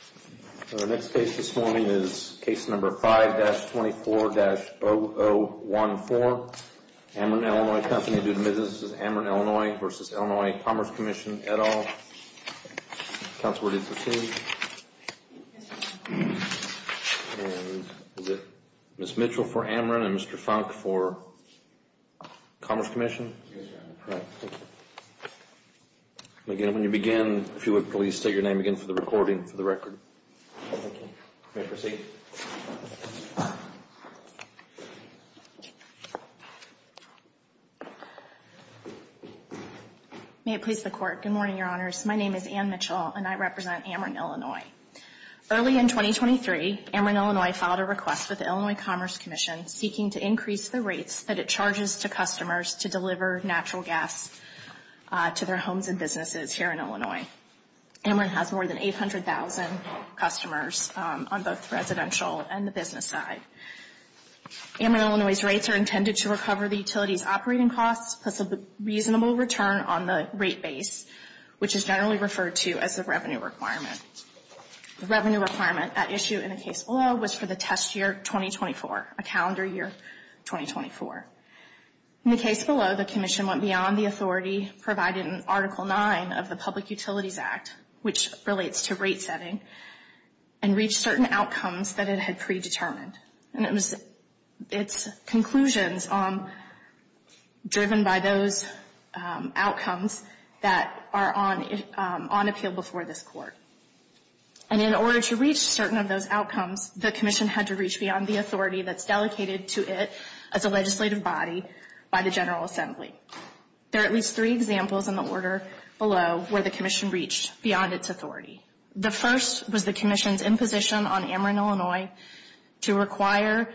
et al. Counselor, would you proceed? Ms. Mitchell for Ameren and Mr. Funk for Commerce Comm'n? Yes, sir. All right, thank you. Again, when you begin, if you would please state your name again for the recording, for the record. Thank you. Thank you. Thank you. Thank you. May I proceed? May it please the Court. Good morning, Your Honors. My name is Ann Mitchell, and I represent Ameren, Illinois. Early in 2023, Ameren, Illinois, filed a request with the Illinois Commerce Commission seeking to increase the rates that it charges to customers to deliver natural gas to their homes and businesses here in Illinois. Ameren has more than 800,000 customers on both the residential and the business side. Ameren, Illinois' rates are intended to recover the utility's operating costs plus a reasonable return on the rate base, which is generally referred to as the revenue requirement. The revenue requirement at issue in the case below was for the test year 2024, a calendar year 2024. In the case below, the Commission went beyond the authority provided in Article 9 of the Public Utilities Act, which relates to rate setting, and reached certain outcomes that it had predetermined. And it was its conclusions driven by those outcomes that are on appeal before this Court. And in order to reach certain of those outcomes, the Commission had to reach beyond the authority that's delegated to it as a legislative body by the General Assembly. There are at least three examples in the order below where the Commission reached beyond its authority. The first was the Commission's imposition on Ameren, Illinois, to require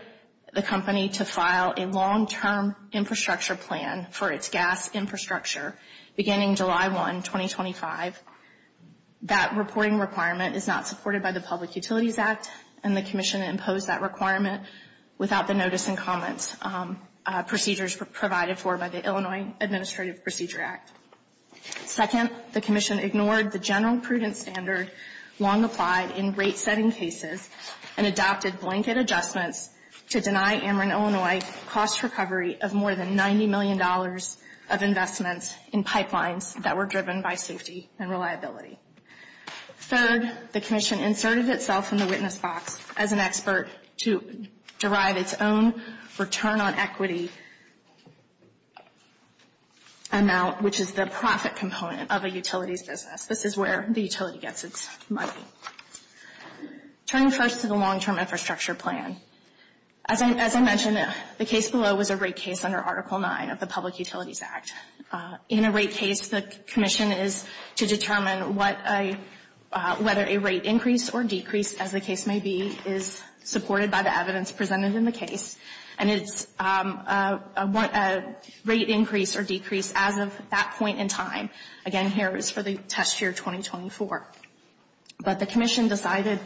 the company to file a long-term infrastructure plan for its gas infrastructure beginning July 1, 2025. That reporting requirement is not supported by the Public Utilities Act, and the Commission imposed that requirement without the notice and comments procedures provided for by the Administrative Procedure Act. Second, the Commission ignored the general prudent standard long applied in rate-setting cases and adopted blanket adjustments to deny Ameren, Illinois, cost recovery of more than $90 million of investments in pipelines that were driven by safety and reliability. Third, the Commission inserted itself in the witness box as an expert to derive its own return on equity amount, which is the profit component of a utilities business. This is where the utility gets its money. Turning first to the long-term infrastructure plan, as I mentioned, the case below was a rate case under Article 9 of the Public Utilities Act. In a rate case, the Commission is to determine whether a rate increase or decrease, as the case may be, is supported by the evidence presented in the case. And it's a rate increase or decrease as of that point in time. Again, here is for the test year 2024. But the Commission decided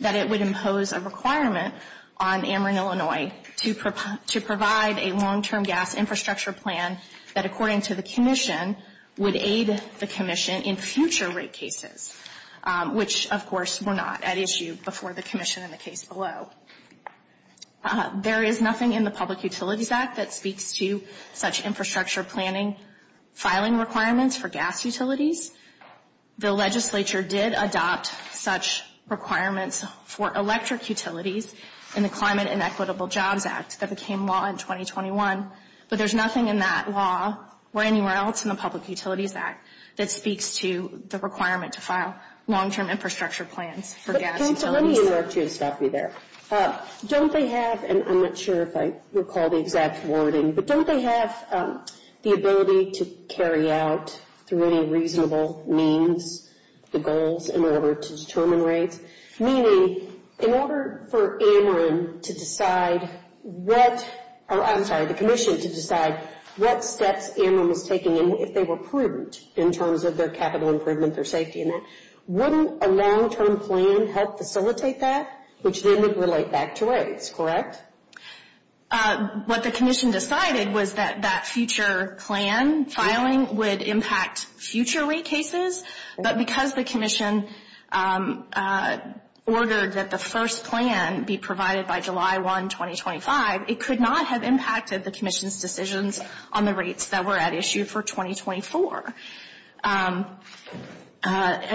that it would impose a requirement on Ameren, Illinois, to provide a long-term gas infrastructure plan that, according to the Commission, would aid the Commission in future rate cases, which, of course, were not at issue before the Commission in the case below. There is nothing in the Public Utilities Act that speaks to such infrastructure planning filing requirements for gas utilities. The legislature did adopt such requirements for electric utilities in the Climate and Equitable Jobs Act that became law in 2021. But there is nothing in that law or anywhere else in the Public Utilities Act that speaks to the requirement to file long-term infrastructure plans for gas utilities. Let me interrupt you and stop you there. Don't they have, and I'm not sure if I recall the exact wording, but don't they have the ability to carry out, through any reasonable means, the goals in order to determine rates? Meaning, in order for Ameren to decide what, I'm sorry, the Commission to decide what steps Ameren was taking and if they were prudent in terms of their capital improvement or safety in that, wouldn't a long-term plan help facilitate that? Which then would relate back to rates, correct? What the Commission decided was that that future plan filing would impact future rate cases. But because the Commission ordered that the first plan be provided by July 1, 2025, it could not have impacted the Commission's decisions on the rates that were at issue for 2024.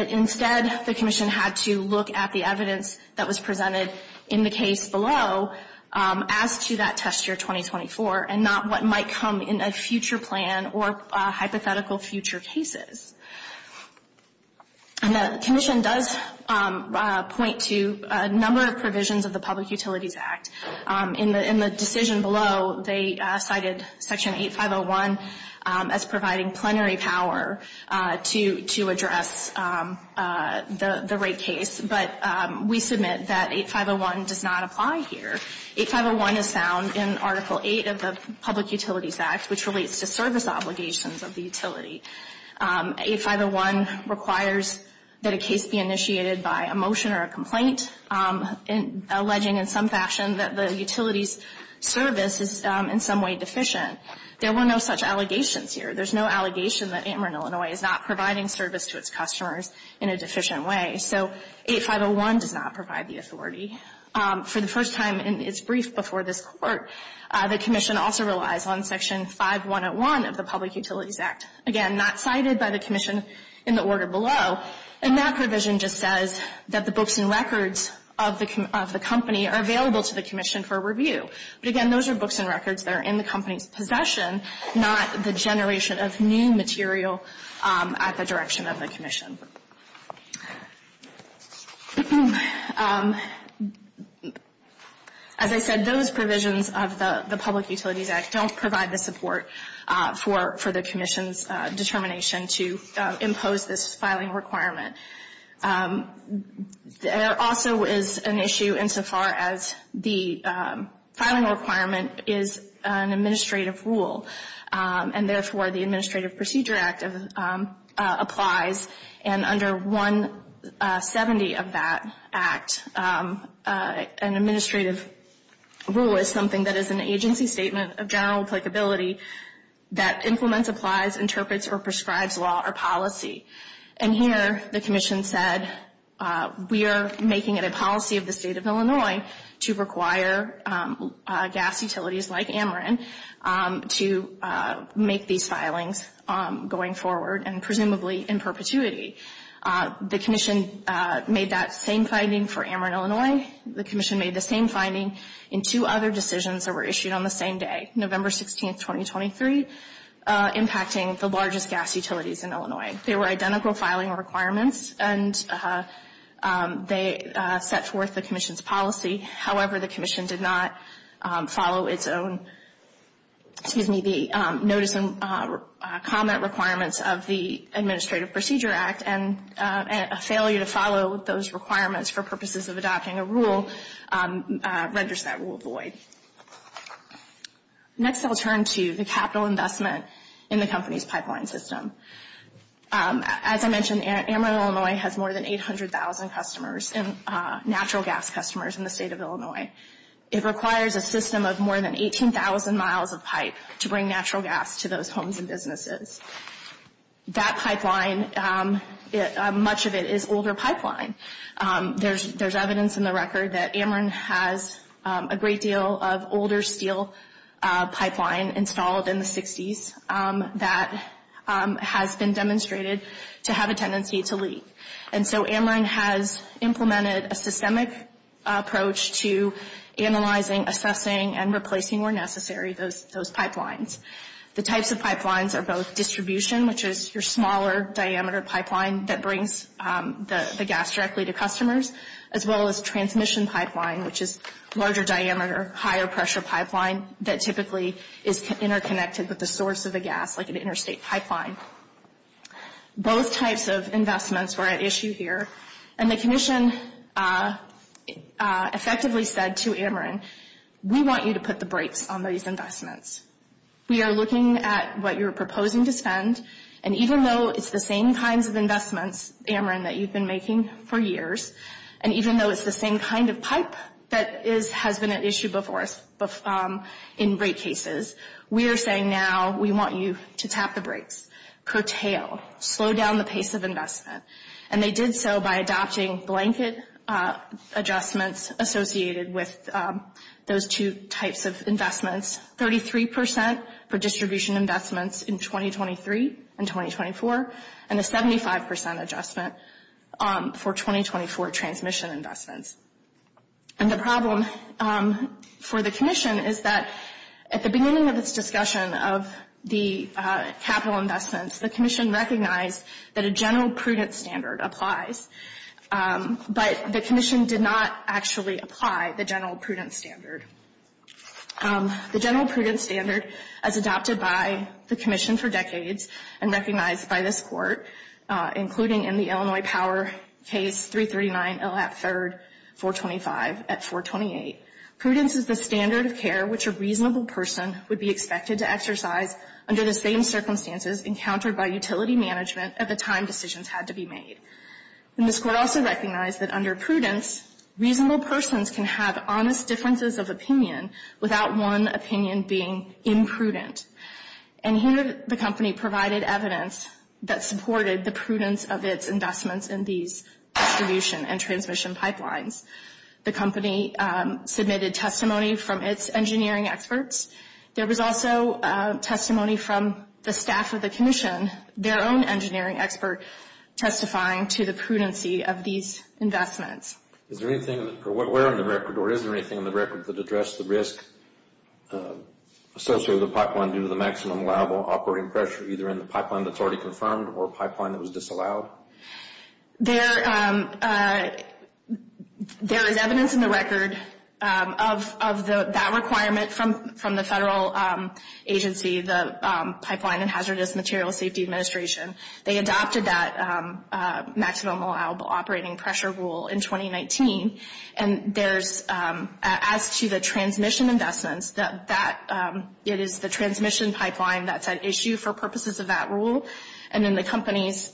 Instead, the Commission had to look at the evidence that was presented in the case below as to that test year 2024 and not what might come in a future plan or hypothetical future cases. And the Commission does point to a number of provisions of the Public Utilities Act. In the decision below, they cited Section 8501 as providing plenary power to address the rate case. But we submit that 8501 does not apply here. 8501 is found in Article 8 of the Public Utilities Act, which relates to service obligations of the utility. 8501 requires that a case be initiated by a motion or a complaint alleging in some fashion that the utility's service is in some way deficient. There were no such allegations here. There's no allegation that Ameren, Illinois is not providing service to its customers in a deficient way. So 8501 does not provide the authority. For the first time in its brief before this Court, the Commission also relies on Section 5101 of the Public Utilities Act. Again, not cited by the Commission in the order below. And that provision just says that the books and records of the company are available to the Commission for review. But again, those are books and records that are in the company's possession, not the generation of new material at the direction of the Commission. As I said, those provisions of the Public Utilities Act don't provide the support for the Commission's determination to impose this filing requirement. There also is an issue insofar as the filing requirement is an administrative rule. And therefore, the Administrative Procedure Act applies. And under 170 of that Act, an administrative rule is something that is an agency statement of general applicability that implements, applies, interprets, or prescribes law or policy. And here, the Commission said, we are making it a policy of the State of Illinois to require gas utilities like Ameren to make these filings going forward and presumably in perpetuity. The Commission made that same finding for Ameren, Illinois. The Commission made the same finding in two other decisions that were issued on the same day, November 16, 2023, impacting the largest gas utilities in Illinois. They were identical filing requirements, and they set forth the Commission's policy. However, the Commission did not follow its own, excuse me, the notice and comment requirements of the Administrative Procedure Act. And a failure to follow those requirements for purposes of adopting a rule renders that rule void. Next, I'll turn to the capital investment in the company's pipeline system. As I mentioned, Ameren, Illinois, has more than 800,000 natural gas customers in the State of Illinois. It requires a system of more than 18,000 miles of pipe to bring natural gas to those homes and businesses. That pipeline, much of it is older pipeline. There's evidence in the record that Ameren has a great deal of older steel pipeline installed in the 60s that has been demonstrated to have a tendency to leak. And so Ameren has implemented a systemic approach to analyzing, assessing, and replacing where necessary those pipelines. The types of pipelines are both distribution, which is your smaller diameter pipeline that brings the gas directly to customers, as well as transmission pipeline, which is larger diameter, higher pressure pipeline that typically is interconnected with the source of the gas, like an interstate pipeline. Both types of investments were at issue here. And the commission effectively said to Ameren, we want you to put the brakes on these investments. We are looking at what you're proposing to spend. And even though it's the same kinds of investments, Ameren, that you've been making for years, and even though it's the same kind of pipe that has been at issue before in rate cases, we are saying now we want you to tap the brakes, curtail, slow down the pace of investment. And they did so by adopting blanket adjustments associated with those two types of investments, 33% for distribution investments in 2023 and 2024, and a 75% adjustment for 2024 transmission investments. And the problem for the commission is that at the beginning of this discussion of the capital investments, the commission recognized that a general prudence standard applies. But the commission did not actually apply the general prudence standard. The general prudence standard, as adopted by the commission for decades and recognized by this court, including in the Illinois power case 339, ill at third, 425, at 428. Prudence is the standard of care which a reasonable person would be expected to exercise under the same circumstances encountered by utility management at the time decisions had to be made. And this court also recognized that under prudence, reasonable persons can have honest differences of opinion without one opinion being imprudent. And here the company provided evidence that supported the prudence of its investments in these distribution and transmission pipelines. The company submitted testimony from its engineering experts. There was also testimony from the staff of the commission, their own engineering expert, testifying to the prudency of these investments. Is there anything, or where on the record, or is there anything on the record that addressed the risk associated with a pipeline due to the maximum allowable operating pressure, either in the pipeline that's already confirmed or a pipeline that was disallowed? There is evidence in the record of that requirement from the federal agency, the Pipeline and Hazardous Materials Safety Administration. They adopted that maximum allowable operating pressure rule in 2019. And there's, as to the transmission investments, that it is the transmission pipeline that's at issue for purposes of that rule. And in the company's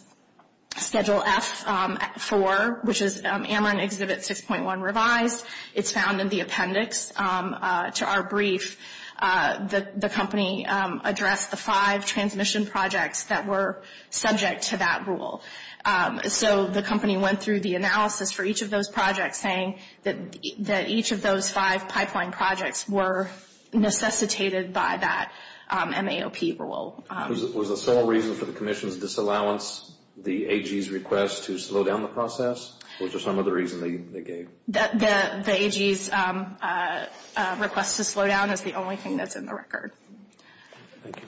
Schedule F-4, which is AMRIN Exhibit 6.1 revised, it's found in the appendix to our brief that the company addressed the five transmission projects that were subject to that rule. So the company went through the analysis for each of those projects, saying that each of those five pipeline projects were necessitated by that MAOP rule. Was the sole reason for the commission's disallowance the AG's request to slow down the process, or was there some other reason they gave? The AG's request to slow down is the only thing that's in the record. Thank you.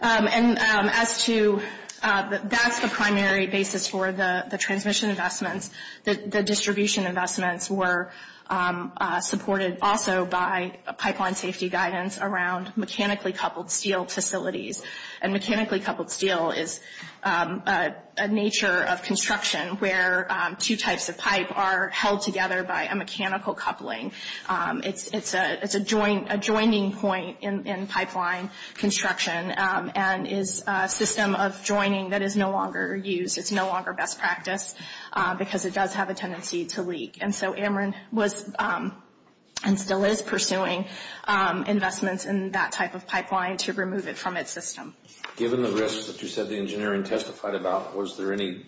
And as to, that's the primary basis for the transmission investments. The distribution investments were supported also by pipeline safety guidance around mechanically coupled steel facilities. And mechanically coupled steel is a nature of construction where two types of pipe are held together by a mechanical coupling. It's a joining point in pipeline construction and is a system of joining that is no longer used. It's no longer best practice because it does have a tendency to leak. And so AMRIN was and still is pursuing investments in that type of pipeline to remove it from its system. Given the risks that you said the engineering testified about, was there any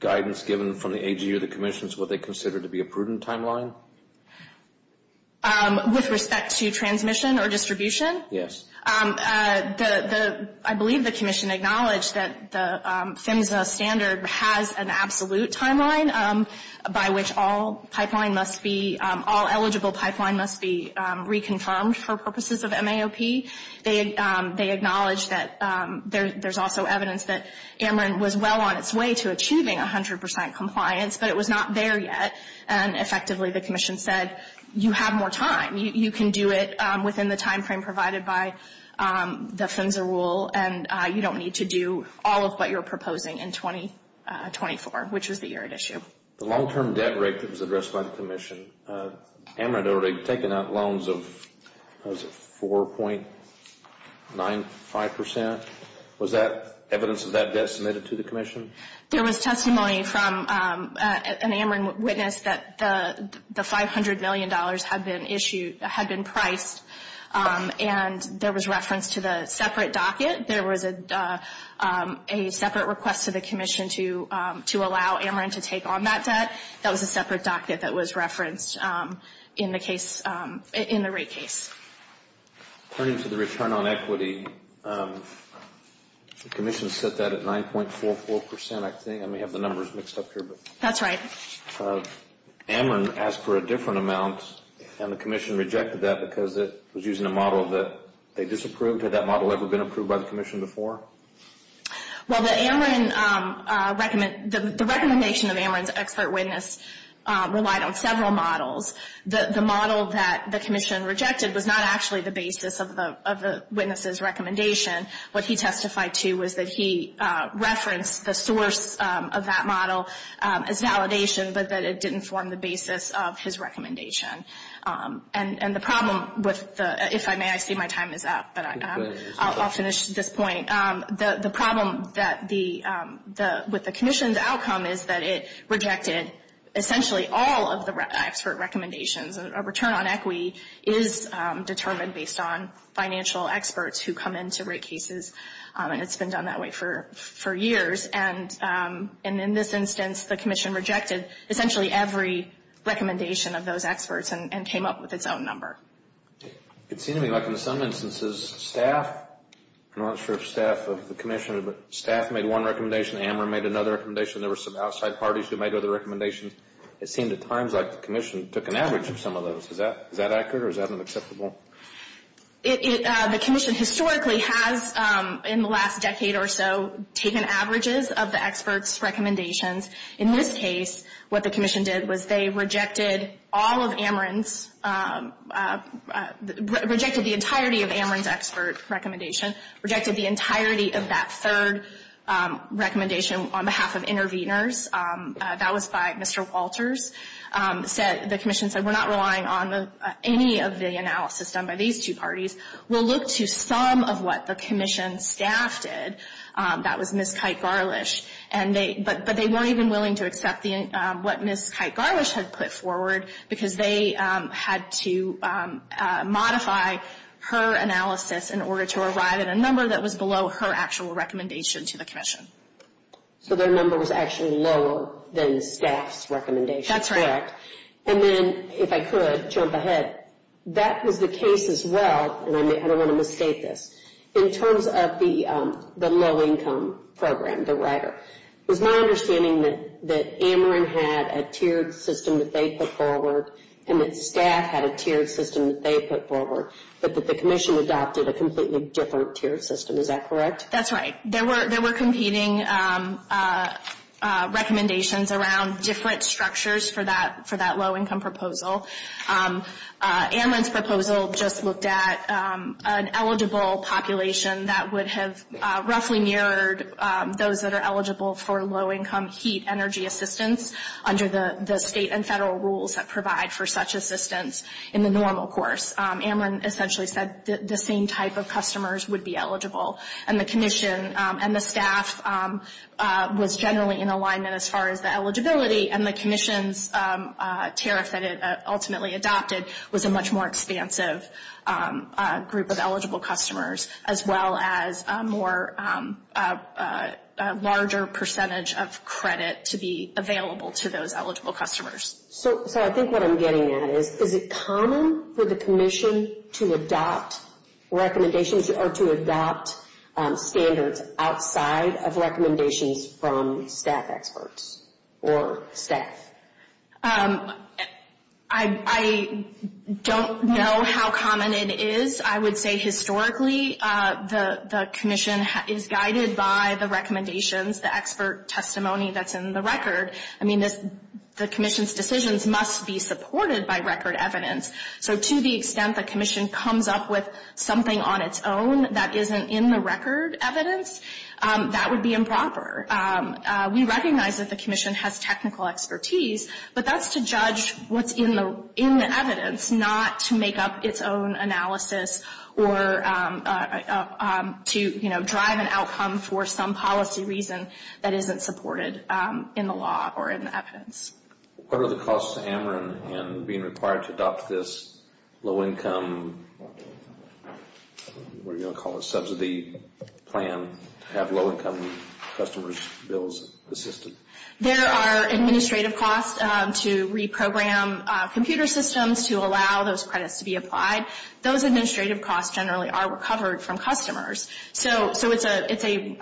guidance given from the AG or the commission as to what they consider to be a prudent timeline? With respect to transmission or distribution? Yes. I believe the commission acknowledged that the PHMSA standard has an absolute timeline by which all eligible pipeline must be reconfirmed for purposes of MAOP. They acknowledged that there's also evidence that AMRIN was well on its way to achieving 100% compliance, but it was not there yet. And effectively the commission said, you have more time. You can do it within the timeframe provided by the PHMSA rule, and you don't need to do all of what you're proposing in 2024, which is the year at issue. The long-term debt rate that was addressed by the commission, AMRIN had already taken out loans of 4.95%. Was that evidence of that debt submitted to the commission? There was testimony from an AMRIN witness that the $500 million had been priced, and there was reference to the separate docket. There was a separate request to the commission to allow AMRIN to take on that debt. That was a separate docket that was referenced in the rate case. Turning to the return on equity, the commission set that at 9.44%. I may have the numbers mixed up here. That's right. AMRIN asked for a different amount, and the commission rejected that because it was using a model that they disapproved. Had that model ever been approved by the commission before? Well, the recommendation of AMRIN's expert witness relied on several models. The model that the commission rejected was not actually the basis of the witness's recommendation. What he testified to was that he referenced the source of that model as validation, but that it didn't form the basis of his recommendation. If I may, I see my time is up, but I'll finish this point. The problem with the commission's outcome is that it rejected essentially all of the expert recommendations. A return on equity is determined based on financial experts who come in to rate cases, and it's been done that way for years. In this instance, the commission rejected essentially every recommendation of those experts and came up with its own number. It seemed to me like in some instances staff, I'm not sure if staff of the commission, but staff made one recommendation, AMRIN made another recommendation, there were some outside parties who made other recommendations. It seemed at times like the commission took an average of some of those. Is that accurate or is that unacceptable? The commission historically has, in the last decade or so, taken averages of the experts' recommendations. In this case, what the commission did was they rejected all of AMRIN's, rejected the entirety of AMRIN's expert recommendation, rejected the entirety of that third recommendation on behalf of interveners. That was by Mr. Walters. The commission said we're not relying on any of the analysis done by these two parties. We'll look to some of what the commission staff did. That was Ms. Kite-Garlish. But they weren't even willing to accept what Ms. Kite-Garlish had put forward because they had to modify her analysis in order to arrive at a number that was below her actual recommendation to the commission. So their number was actually lower than staff's recommendation. That's right. Correct. And then, if I could jump ahead, that was the case as well, and I don't want to mistake this, in terms of the low-income program, the rider. It was my understanding that AMRIN had a tiered system that they put forward and that staff had a tiered system that they put forward, but that the commission adopted a completely different tiered system. Is that correct? That's right. There were competing recommendations around different structures for that low-income proposal. AMRIN's proposal just looked at an eligible population that would have roughly mirrored those that are eligible for low-income heat energy assistance under the state and federal rules that provide for such assistance in the normal course. AMRIN essentially said the same type of customers would be eligible, and the commission and the staff was generally in alignment as far as the eligibility, and the commission's tariff that it ultimately adopted was a much more expansive group of eligible customers, as well as a larger percentage of credit to be available to those eligible customers. So I think what I'm getting at is, is it common for the commission to adopt recommendations or to adopt standards outside of recommendations from staff experts or staff? I don't know how common it is. I would say historically the commission is guided by the recommendations, the expert testimony that's in the record. I mean, the commission's decisions must be supported by record evidence. So to the extent the commission comes up with something on its own that isn't in the record evidence, that would be improper. We recognize that the commission has technical expertise, but that's to judge what's in the evidence, not to make up its own analysis or to drive an outcome for some policy reason that isn't supported in the law or in the evidence. What are the costs to AMRIN in being required to adopt this low-income, what are you going to call it, subsidy plan to have low-income customers' bills assisted? There are administrative costs to reprogram computer systems to allow those credits to be applied. Those administrative costs generally are recovered from customers. So it's a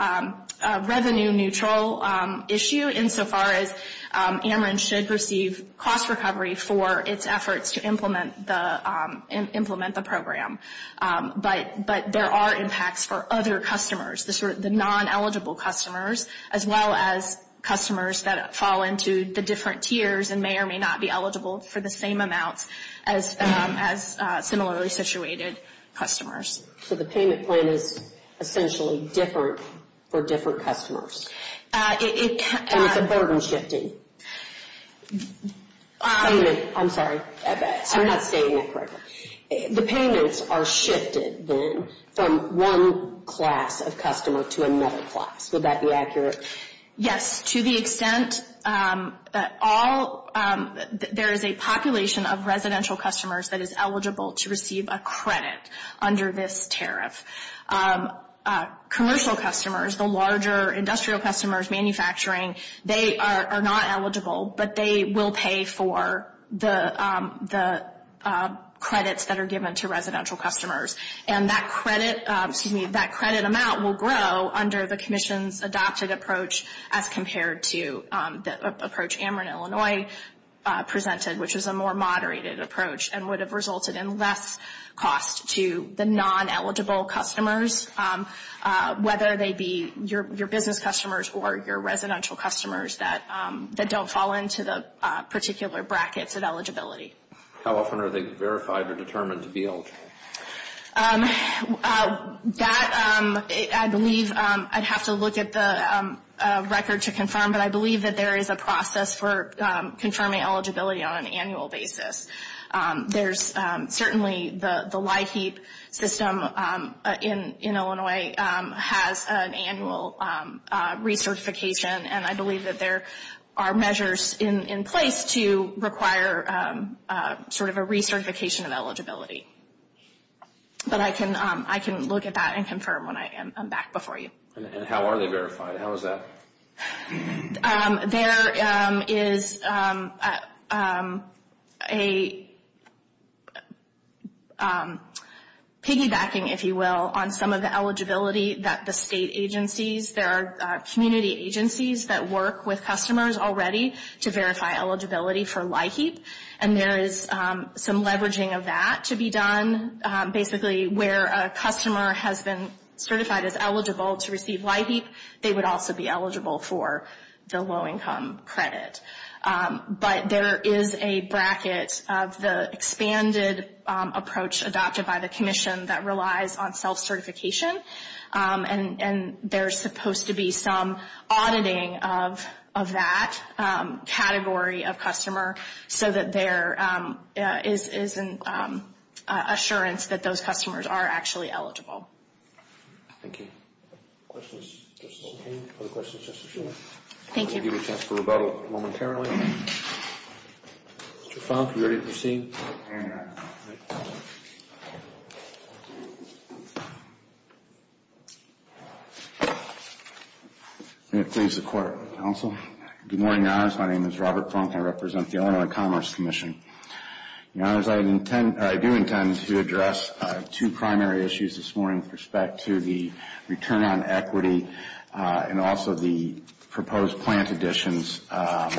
revenue-neutral issue insofar as AMRIN should receive cost recovery for its efforts to implement the program. But there are impacts for other customers, the non-eligible customers, as well as customers that fall into the different tiers and may or may not be eligible for the same amounts as similarly situated customers. So the payment plan is essentially different for different customers. And it's a burden-shifting payment. I'm sorry. I'm not stating that correctly. The payments are shifted then from one class of customer to another class. Would that be accurate? Yes. To the extent that all – there is a population of residential customers that is eligible to receive a credit under this tariff. Commercial customers, the larger industrial customers, manufacturing, they are not eligible, but they will pay for the credits that are given to residential customers. And that credit – excuse me – that credit amount will grow under the commission's adopted approach as compared to the approach AMRIN Illinois presented, which is a more moderated approach and would have resulted in less cost to the non-eligible customers, whether they be your business customers or your residential customers that don't fall into the particular brackets of eligibility. How often are they verified or determined to be eligible? That – I believe I'd have to look at the record to confirm, but I believe that there is a process for confirming eligibility on an annual basis. There's certainly the LIHEAP system in Illinois has an annual recertification, and I believe that there are measures in place to require sort of a recertification of eligibility. But I can look at that and confirm when I am back before you. And how are they verified? How is that? There is a piggybacking, if you will, on some of the eligibility that the state agencies – there are community agencies that work with customers already to verify eligibility for LIHEAP, and there is some leveraging of that to be done. Basically, where a customer has been certified as eligible to receive LIHEAP, they would also be eligible for the low-income credit. But there is a bracket of the expanded approach adopted by the commission that relies on self-certification, and there's supposed to be some auditing of that category of customer so that there is an assurance that those customers are actually eligible. Thank you. Questions? Other questions? Thank you. We'll give you a chance for rebuttal momentarily. Mr. Funk, are you ready to proceed? May it please the Court, Counsel. Good morning, Your Honors. My name is Robert Funk. I represent the Illinois Commerce Commission. Your Honors, I do intend to address two primary issues this morning with respect to the return on equity and also the proposed plant additions. But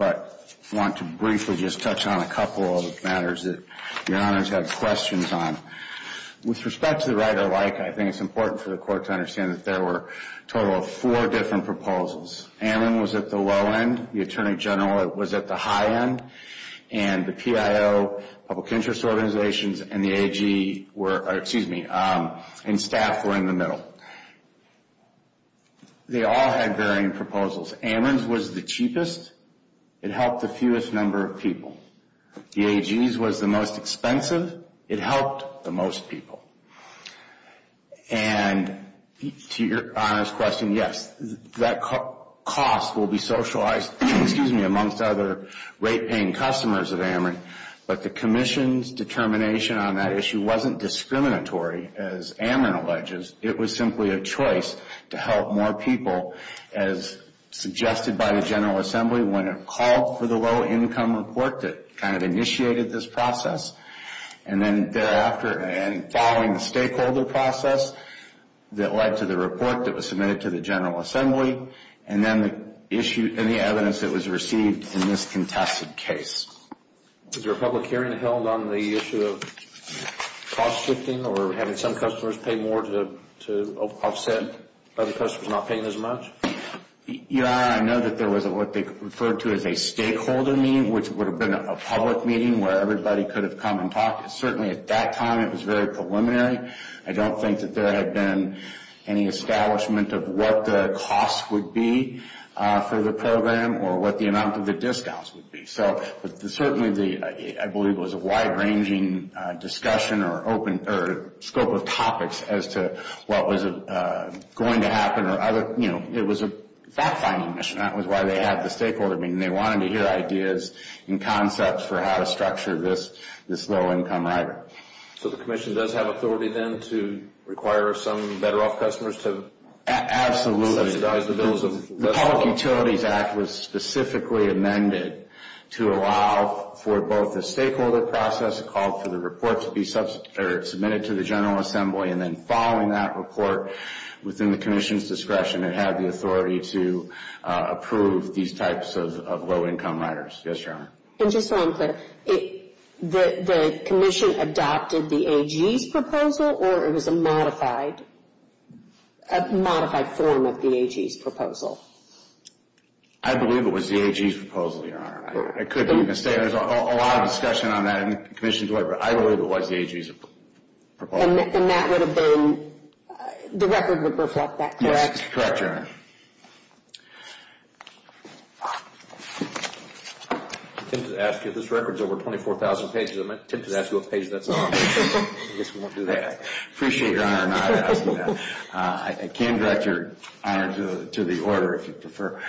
I want to briefly just touch on a couple of matters that Your Honors have questions on. With respect to the right or like, I think it's important for the Court to understand that there were a total of four different proposals. Ammon was at the low end. The Attorney General was at the high end. And the PIO, public interest organizations, and the AG were, or excuse me, and staff were in the middle. They all had varying proposals. Ammon's was the cheapest. It helped the fewest number of people. The AG's was the most expensive. It helped the most people. And to Your Honors' question, yes, that cost will be socialized, excuse me, amongst other rate-paying customers of Ammon. But the Commission's determination on that issue wasn't discriminatory, as Ammon alleges. It was simply a choice to help more people, as suggested by the General Assembly, when it called for the low-income report that kind of initiated this process. And then thereafter, and following the stakeholder process that led to the report that was submitted to the General Assembly, and then the evidence that was received in this contested case. Was there a public hearing held on the issue of cost shifting or having some customers pay more to offset other customers not paying as much? Your Honor, I know that there was what they referred to as a stakeholder meeting, which would have been a public meeting where everybody could have come and talked. Certainly at that time, it was very preliminary. I don't think that there had been any establishment of what the cost would be for the program or what the amount of the discounts would be. But certainly, I believe it was a wide-ranging discussion or scope of topics as to what was going to happen. It was a fact-finding mission. That was why they had the stakeholder meeting. They wanted to hear ideas and concepts for how to structure this low-income rider. So the Commission does have authority, then, to require some better-off customers to subsidize the bills? The Public Utilities Act was specifically amended to allow for both the stakeholder process, called for the report to be submitted to the General Assembly, and then following that report within the Commission's discretion, it had the authority to approve these types of low-income riders. Yes, Your Honor. And just so I'm clear, the Commission adopted the AG's proposal, or it was a modified form of the AG's proposal? I believe it was the AG's proposal, Your Honor. I could be mistaken. There's a lot of discussion on that in the Commission's work. But I believe it was the AG's proposal. And that would have been, the record would reflect that, correct? Yes, correct, Your Honor. I'm tempted to ask you, this record's over 24,000 pages, I'm tempted to ask you what page that's on. I guess we won't do that. I appreciate Your Honor not asking that. I can direct Your Honor to the order, if you prefer.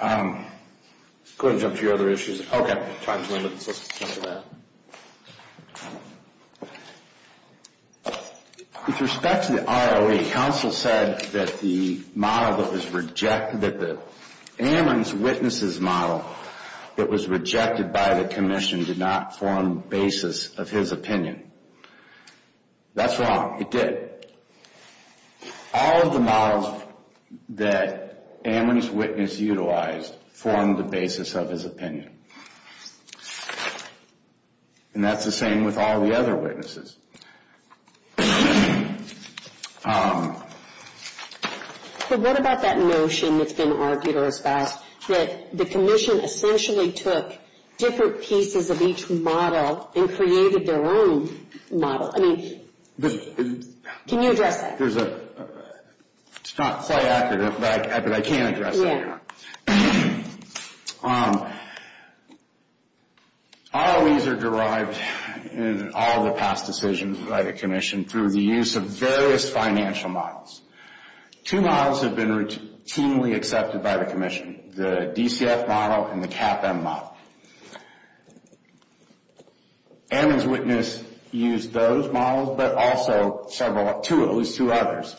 Go ahead and jump to your other issues. Okay, time's limited, so let's jump to that. With respect to the ROE, the counsel said that the model that was rejected, that the Ammon's Witnesses model that was rejected by the Commission did not form the basis of his opinion. That's wrong. It did. All of the models that Ammon's Witnesses utilized formed the basis of his opinion. And that's the same with all the other witnesses. But what about that notion that's been argued or espoused, that the Commission essentially took different pieces of each model and created their own model? I mean, can you address that? It's not quite accurate, but I can address that, Your Honor. ROEs are derived in all the past decisions by the Commission through the use of various financial models. Two models have been routinely accepted by the Commission, the DCF model and the CAPM model. Ammon's Witnesses used those models, but also at least two others,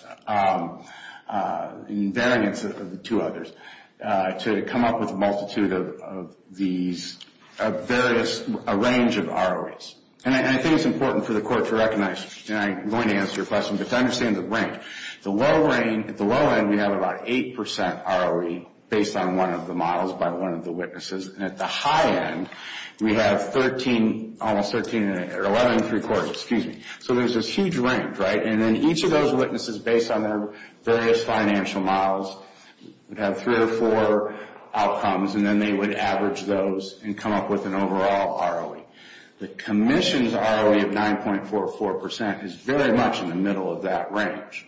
in variance of the two others, to come up with a multitude of these various, a range of ROEs. And I think it's important for the Court to recognize, and I'm going to answer your question, but to understand the range. At the low end, we have about 8% ROE based on one of the models by one of the witnesses. And at the high end, we have 13, almost 13 or 11, three quarters, excuse me. So there's this huge range, right? And then each of those witnesses, based on their various financial models, would have three or four outcomes, and then they would average those and come up with an overall ROE. The Commission's ROE of 9.44% is very much in the middle of that range.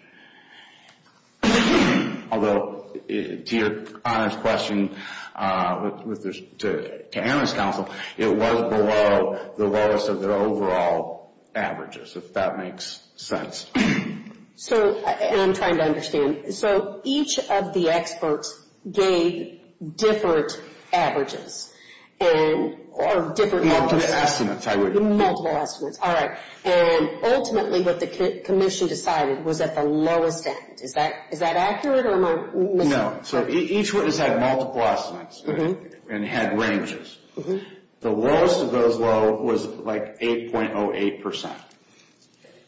Although, to Your Honor's question, to Ammon's counsel, it wasn't below the lowest of their overall averages, if that makes sense. And I'm trying to understand. So each of the experts gave different averages, or different multiples. Multiple estimates, I would guess. Multiple estimates. All right. And ultimately, what the Commission decided was at the lowest end. Is that accurate? No. So each witness had multiple estimates and had ranges. The lowest of those low was like 8.08%.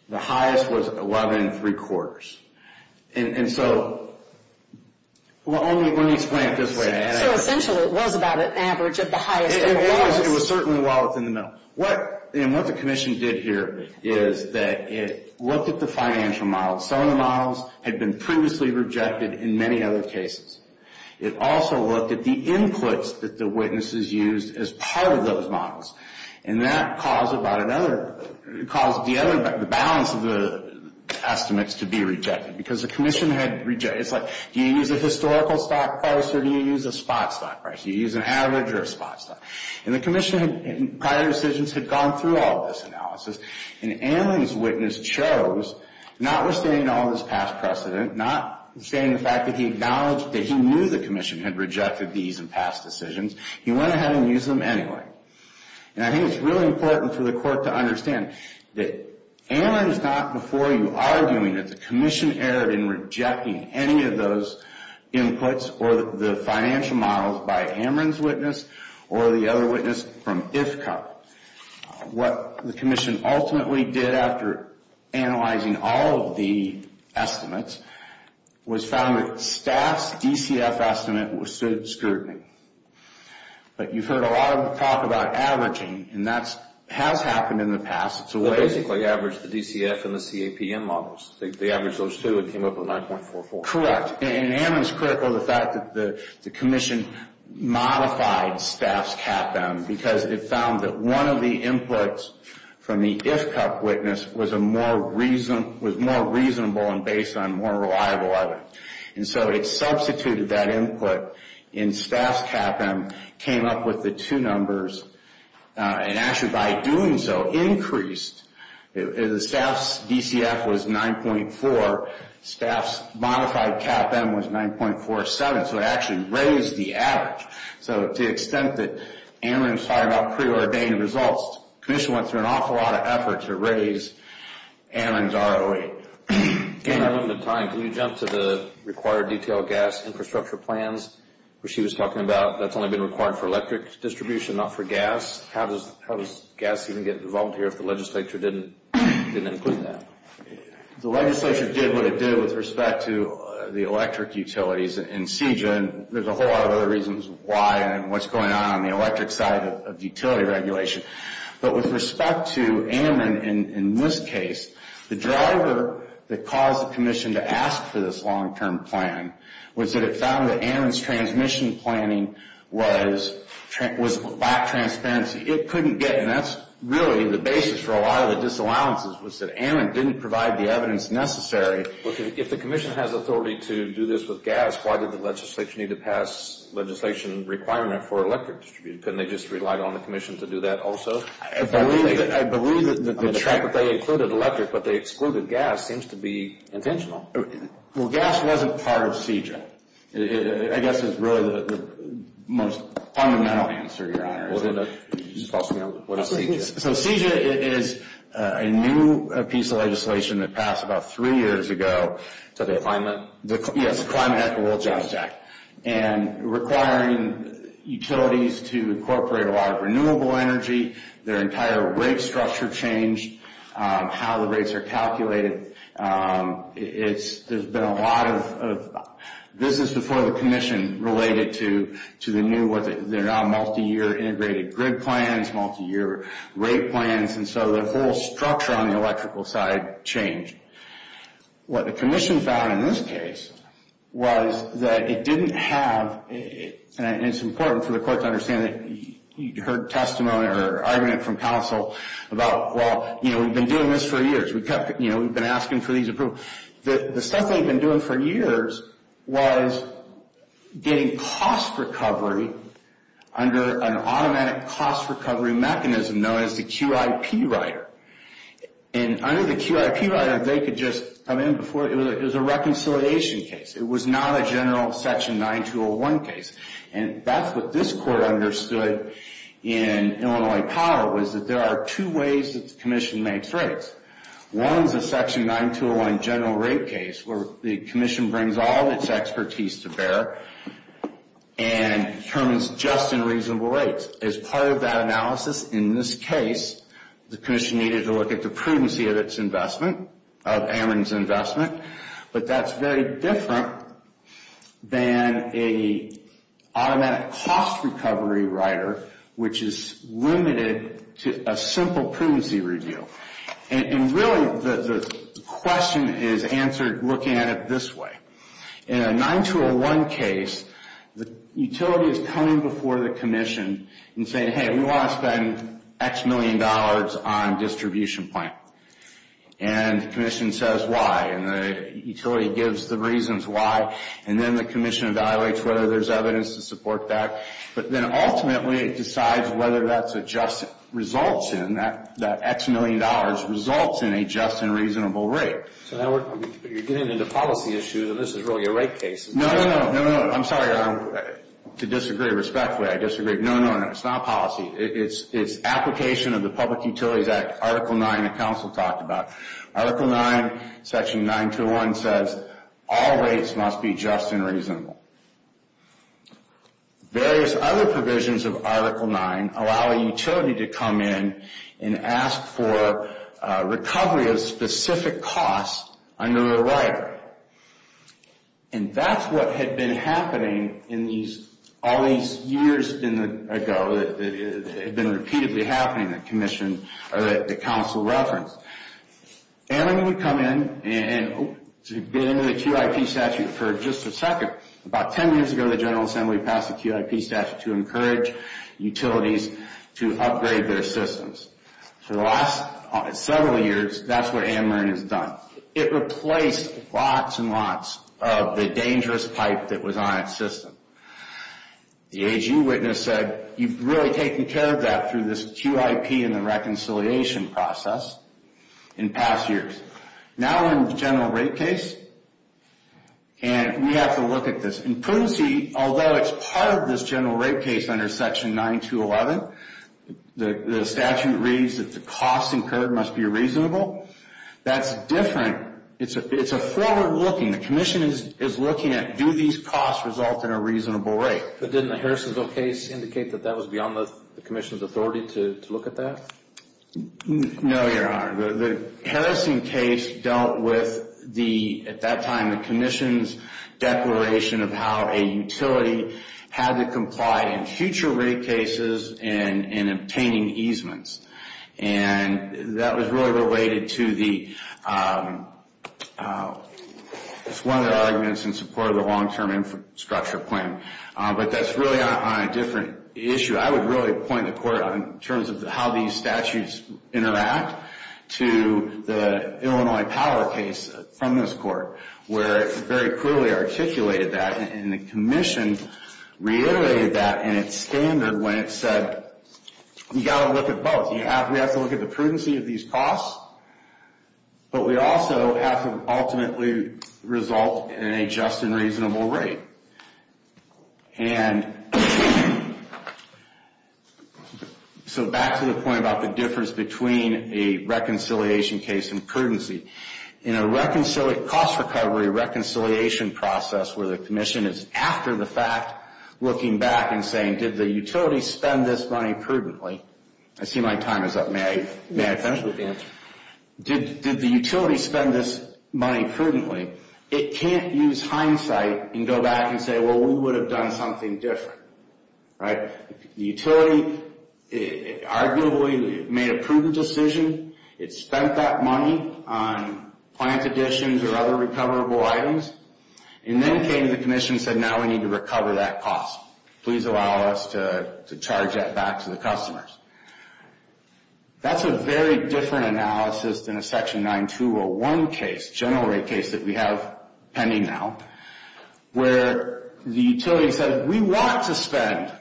The highest was 11, three quarters. And so, let me explain it this way. So essentially, it was about an average of the highest of the lowest. It was certainly well within the middle. And what the Commission did here is that it looked at the financial models. Some of the models had been previously rejected in many other cases. It also looked at the inputs that the witnesses used as part of those models. And that caused the balance of the estimates to be rejected. Because the Commission had rejected. It's like, do you use a historical stock price or do you use a spot stock price? Do you use an average or a spot stock? And the Commission, in prior decisions, had gone through all this analysis. And Amron's witness chose, notwithstanding all this past precedent, notwithstanding the fact that he acknowledged that he knew the Commission had rejected these in past decisions, he went ahead and used them anyway. And I think it's really important for the Court to understand that Amron is not before you arguing that the Commission erred in rejecting any of those inputs or the financial models by Amron's witness or the other witness from IFCOP. What the Commission ultimately did after analyzing all of the estimates was found that Staff's DCF estimate was scrutiny. But you've heard a lot of talk about averaging. And that has happened in the past. It's a way... They basically averaged the DCF and the CAPM models. They averaged those two and came up with 9.44. Correct. And Amron's critical of the fact that the Commission modified Staff's CAPM because it found that one of the inputs from the IFCOP witness was more reasonable and based on more reliable evidence. And so it substituted that input in Staff's CAPM, came up with the two numbers, and actually by doing so increased... Staff's DCF was 9.4. Staff's modified CAPM was 9.47. So it actually raised the average. So to the extent that Amron's talking about preordained results, the Commission went through an awful lot of effort to raise Amron's ROE. I'm running out of time. Can you jump to the required detailed gas infrastructure plans where she was talking about that's only been required for electric distribution, not for gas? How does gas even get involved here if the legislature didn't include that? The legislature did what it did with respect to the electric utilities in CJEA. There's a whole lot of other reasons why and what's going on on the electric side of utility regulation. But with respect to Amron in this case, the driver that caused the Commission to ask for this long-term plan was that it found that Amron's transmission planning lacked transparency. It couldn't get, and that's really the basis for a lot of the disallowances, was that Amron didn't provide the evidence necessary. If the Commission has authority to do this with gas, why did the legislature need to pass legislation requirement for electric distribution? Couldn't they just rely on the Commission to do that also? I believe that the fact that they included electric but they excluded gas seems to be intentional. Well, gas wasn't part of CJEA. I guess it's really the most fundamental answer, Your Honor. So CJEA is a new piece of legislation that passed about three years ago. So the Climate? Yes, the Climate and Ecological Act. And requiring utilities to incorporate a lot of renewable energy, their entire rate structure changed, how the rates are calculated. There's been a lot of business before the Commission related to the new, they're now multi-year integrated grid plans, multi-year rate plans, and so the whole structure on the electrical side changed. What the Commission found in this case was that it didn't have, and it's important for the Court to understand that you heard testimony or argument from counsel about, well, you know, we've been doing this for years. We've been asking for these approvals. The stuff they've been doing for years was getting cost recovery under an automatic cost recovery mechanism known as the QIP Rider. And under the QIP Rider, they could just come in before, it was a reconciliation case. It was not a general Section 9201 case. And that's what this Court understood in Illinois Power, was that there are two ways that the Commission makes rates. One is a Section 9201 general rate case, where the Commission brings all of its expertise to bear and determines just and reasonable rates. As part of that analysis, in this case, the Commission needed to look at the prudency of its investment, of Ameren's investment. But that's very different than an automatic cost recovery rider, which is limited to a simple prudency review. And really, the question is answered looking at it this way. In a 9201 case, the utility is coming before the Commission and saying, hey, we want to spend X million dollars on distribution plan. And the Commission says why, and the utility gives the reasons why. And then the Commission evaluates whether there's evidence to support that. But then ultimately, it decides whether that's a just result, and that X million dollars results in a just and reasonable rate. So now you're getting into policy issues, and this is really a rate case. No, no, no. I'm sorry. To disagree respectfully, I disagree. No, no, no. It's not policy. It's application of the Public Utilities Act, Article 9, the Council talked about. Article 9, Section 9201 says all rates must be just and reasonable. Various other provisions of Article 9 allow a utility to come in and ask for recovery of specific costs under the rider. And that's what had been happening all these years ago. It had been repeatedly happening that the Council referenced. AMRN would come in and get into the QIP statute for just a second. About 10 years ago, the General Assembly passed the QIP statute to encourage utilities to upgrade their systems. For the last several years, that's what AMRN has done. It replaced lots and lots of the dangerous pipe that was on its system. The AG witness said you've really taken care of that through this QIP and the reconciliation process in past years. Now we're in the general rate case, and we have to look at this. In prudency, although it's part of this general rate case under Section 9211, the statute reads that the costs incurred must be reasonable. That's different. It's a forward-looking. The Commission is looking at do these costs result in a reasonable rate. But didn't the Harrisonville case indicate that that was beyond the Commission's authority to look at that? No, Your Honor. The Harrison case dealt with, at that time, the Commission's declaration of how a utility had to comply in future rate cases in obtaining easements. That was really related to one of the arguments in support of the long-term infrastructure plan. But that's really on a different issue. I would really point the Court, in terms of how these statutes interact, to the Illinois Power case from this Court, where it very crudely articulated that, and the Commission reiterated that in its standard when it said, you've got to look at both. We have to look at the prudency of these costs, but we also have to ultimately result in a just and reasonable rate. So back to the point about the difference between a reconciliation case and prudency. In a cost recovery reconciliation process, where the Commission is after the fact looking back and saying, did the utility spend this money prudently? I see my time is up. May I finish with the answer? Did the utility spend this money prudently? It can't use hindsight and go back and say, well, we would have done something different. The utility arguably made a prudent decision. It spent that money on plant additions or other recoverable items, and then came to the Commission and said, now we need to recover that cost. Please allow us to charge that back to the customers. That's a very different analysis than a Section 9201 case, general rate case that we have pending now, where the utility says, we want to spend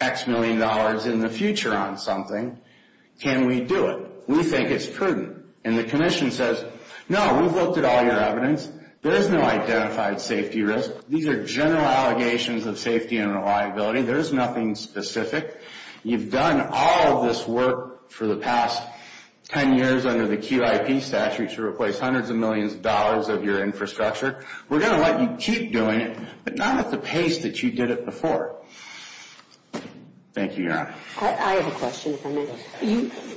X million dollars in the future on something. Can we do it? We think it's prudent. And the Commission says, no, we've looked at all your evidence. There is no identified safety risk. These are general allegations of safety and reliability. There is nothing specific. You've done all of this work for the past 10 years under the QIP statute to replace hundreds of millions of dollars of your infrastructure. We're going to let you keep doing it, but not at the pace that you did it before. Thank you, Your Honor. I have a question if I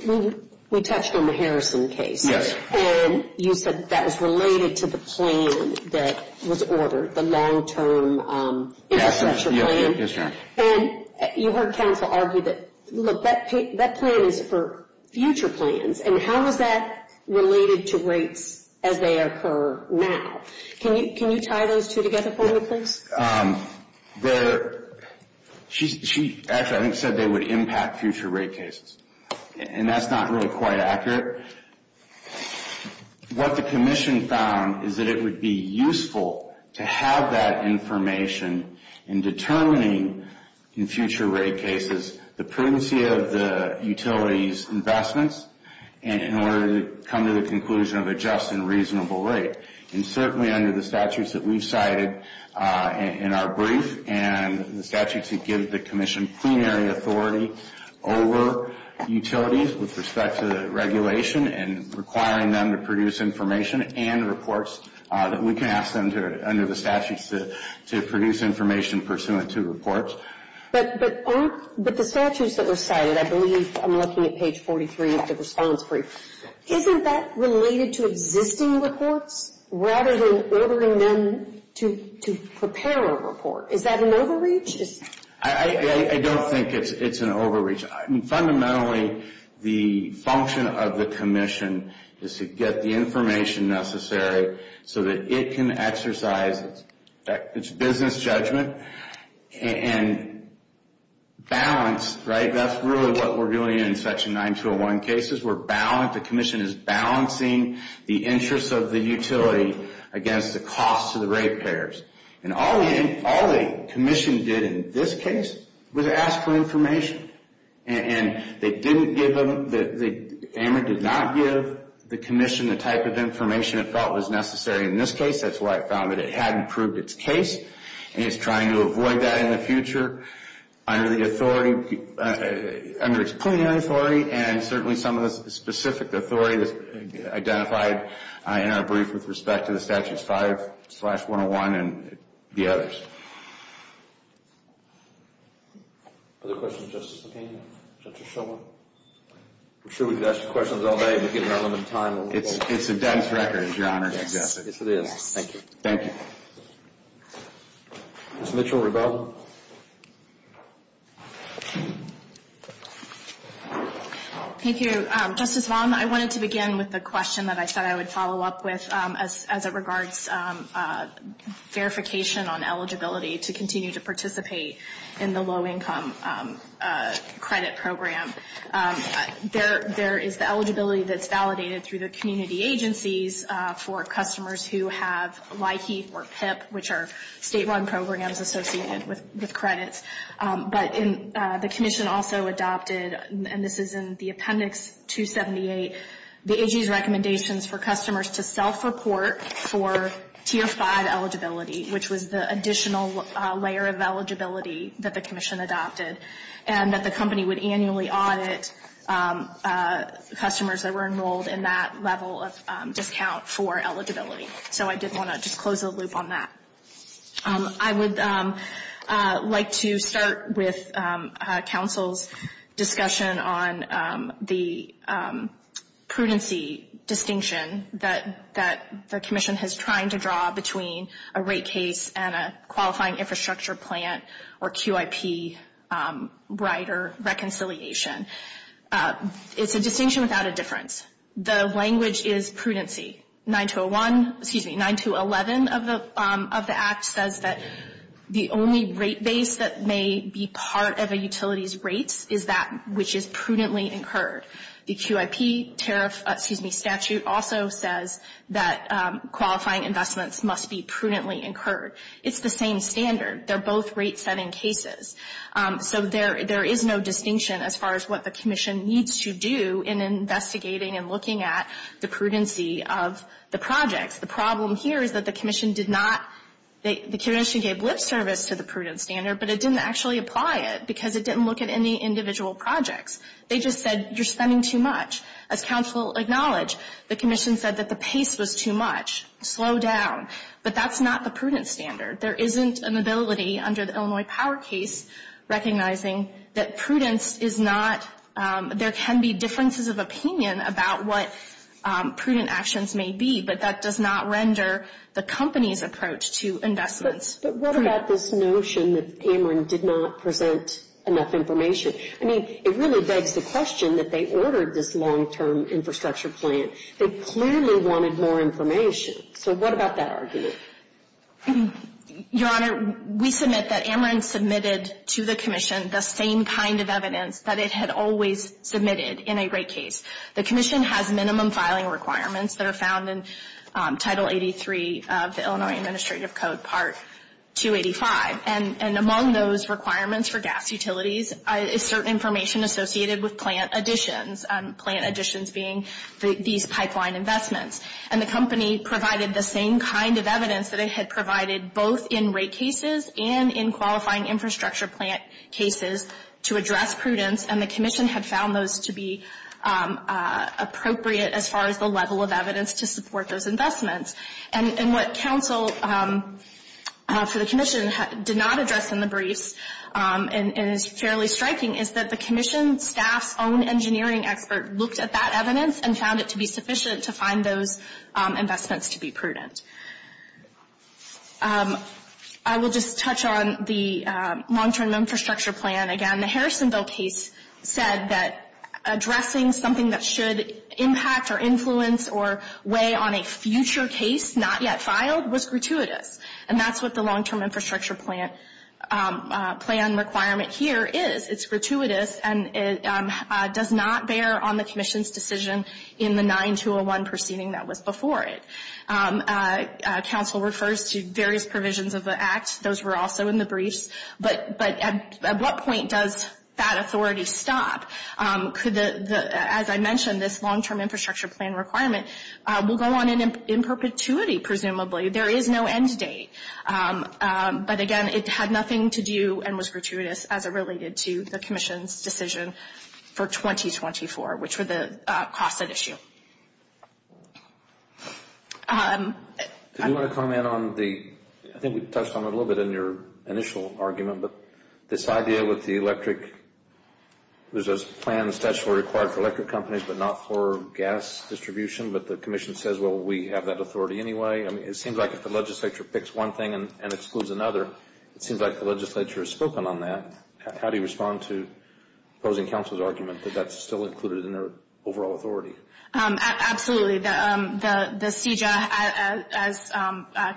may. We touched on the Harrison case. Yes. And you said that was related to the plan that was ordered, the long-term infrastructure plan. Yes, Your Honor. And you heard counsel argue that, look, that plan is for future plans, and how is that related to rates as they occur now? Can you tie those two together for me, please? She actually, I think, said they would impact future rate cases, and that's not really quite accurate. What the Commission found is that it would be useful to have that information in determining in future rate cases the prudency of the utility's investments in order to come to the conclusion of a just and reasonable rate. And certainly under the statutes that we've cited in our brief and the statute to give the Commission plenary authority over utilities with respect to the regulation and requiring them to produce information and reports, we can ask them under the statutes to produce information pursuant to reports. But the statutes that were cited, I believe I'm looking at page 43 of the response brief, isn't that related to existing reports rather than ordering them to prepare a report? Is that an overreach? I don't think it's an overreach. Fundamentally, the function of the Commission is to get the information necessary so that it can exercise its business judgment and balance, right? That's really what we're doing in Section 9201 cases. The Commission is balancing the interests of the utility against the cost to the rate payers. And all the Commission did in this case was ask for information. And they didn't give them, AMR did not give the Commission the type of information it felt was necessary in this case. That's why it found that it hadn't proved its case. And it's trying to avoid that in the future under the authority, under its plenary authority and certainly some of the specific authority that's identified in our brief with respect to the Statutes 5-101 and the others. Other questions, Justice McKenna? Justice Shulman? I'm sure we've asked you questions all day, but given our limited time. It's a dense record, as Your Honor suggested. Yes, it is. Thank you. Thank you. Ms. Mitchell-Rebell? Thank you. Justice Vaughn, I wanted to begin with the question that I said I would follow up with as it regards verification on eligibility to continue to participate in the low-income credit program. There is the eligibility that's validated through the community agencies for customers who have LIHEAP or PIP, which are state-run programs associated with credits. But the Commission also adopted, and this is in the Appendix 278, the AG's recommendations for customers to self-report for Tier 5 eligibility, which was the additional layer of eligibility that the Commission adopted, and that the company would annually audit customers that were enrolled in that level of discount for eligibility. So I did want to just close the loop on that. I would like to start with counsel's discussion on the prudency distinction that the Commission has tried to draw between a rate case and a qualifying infrastructure plant or QIP right or reconciliation. It's a distinction without a difference. The language is prudency. 9201, excuse me, 9211 of the Act says that the only rate base that may be part of a utility's rates is that which is prudently incurred. The QIP tariff statute also says that qualifying investments must be prudently incurred. It's the same standard. They're both rate-setting cases. So there is no distinction as far as what the Commission needs to do in investigating and looking at the prudency of the projects. The problem here is that the Commission did not – the Commission gave lip service to the prudent standard, but it didn't actually apply it because it didn't look at any individual projects. They just said, you're spending too much. As counsel acknowledged, the Commission said that the pace was too much. Slow down. But that's not the prudent standard. There isn't an ability under the Illinois Power case recognizing that prudence is not – there can be differences of opinion about what prudent actions may be, but that does not render the company's approach to investments. But what about this notion that Ameren did not present enough information? I mean, it really begs the question that they ordered this long-term infrastructure plan. They clearly wanted more information. So what about that argument? Your Honor, we submit that Ameren submitted to the Commission the same kind of evidence that it had always submitted in a rate case. The Commission has minimum filing requirements that are found in Title 83 of the Illinois Administrative Code, Part 285. And among those requirements for gas utilities is certain information associated with plant additions, plant additions being these pipeline investments. And the company provided the same kind of evidence that it had provided both in rate cases and in qualifying infrastructure plant cases to address prudence, and the Commission had found those to be appropriate as far as the level of evidence to support those investments. And what counsel for the Commission did not address in the briefs and is fairly striking is that the Commission staff's own engineering expert looked at that evidence and found it to be sufficient to find those investments to be prudent. I will just touch on the long-term infrastructure plan again. The Harrisonville case said that addressing something that should impact or influence or weigh on a future case not yet filed was gratuitous. And that's what the long-term infrastructure plan requirement here is. It's gratuitous and it does not bear on the Commission's decision in the 9201 proceeding that was before it. Counsel refers to various provisions of the Act. Those were also in the briefs. But at what point does that authority stop? As I mentioned, this long-term infrastructure plan requirement will go on in perpetuity, presumably. There is no end date. But again, it had nothing to do and was gratuitous as it related to the Commission's decision for 2024, which were the costs at issue. Do you want to comment on the – I think we touched on it a little bit in your initial argument, but this idea with the electric – there's a plan that's actually required for electric companies but not for gas distribution, but the Commission says, well, we have that authority anyway. I mean, it seems like if the legislature picks one thing and excludes another, it seems like the legislature has spoken on that. How do you respond to opposing counsel's argument that that's still included in their overall authority? Absolutely. The CJA, as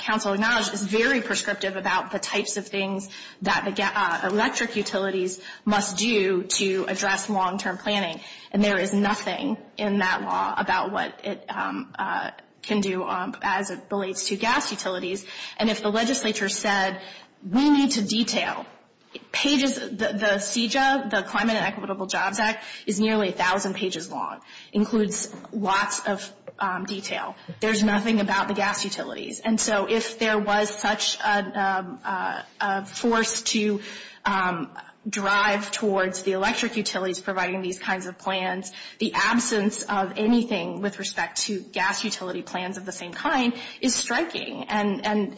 counsel acknowledged, is very prescriptive about the types of things that electric utilities must do to address long-term planning. And there is nothing in that law about what it can do as it relates to gas utilities. And if the legislature said, we need to detail pages – the CJA, the Climate and Equitable Jobs Act, is nearly 1,000 pages long, includes lots of detail. There's nothing about the gas utilities. And so if there was such a force to drive towards the electric utilities providing these kinds of plans, the absence of anything with respect to gas utility plans of the same kind is striking and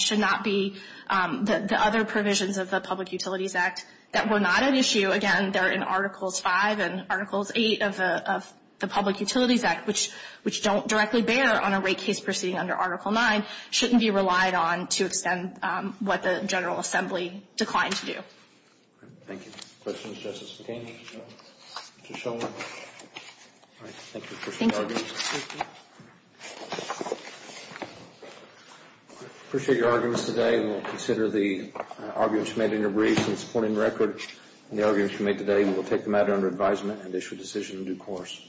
should not be the other provisions of the Public Utilities Act that were not at issue. Again, they're in Articles 5 and Articles 8 of the Public Utilities Act, which don't directly bear on a rate case proceeding under Article 9, shouldn't be relied on to extend what the General Assembly declined to do. Thank you. Questions, Justice McCain? Mr. Shulman? Thank you for your arguments. Appreciate your arguments today. We'll consider the arguments you made in your brief and supporting record. And the arguments you made today, we will take them out under advisement and issue a decision in due course.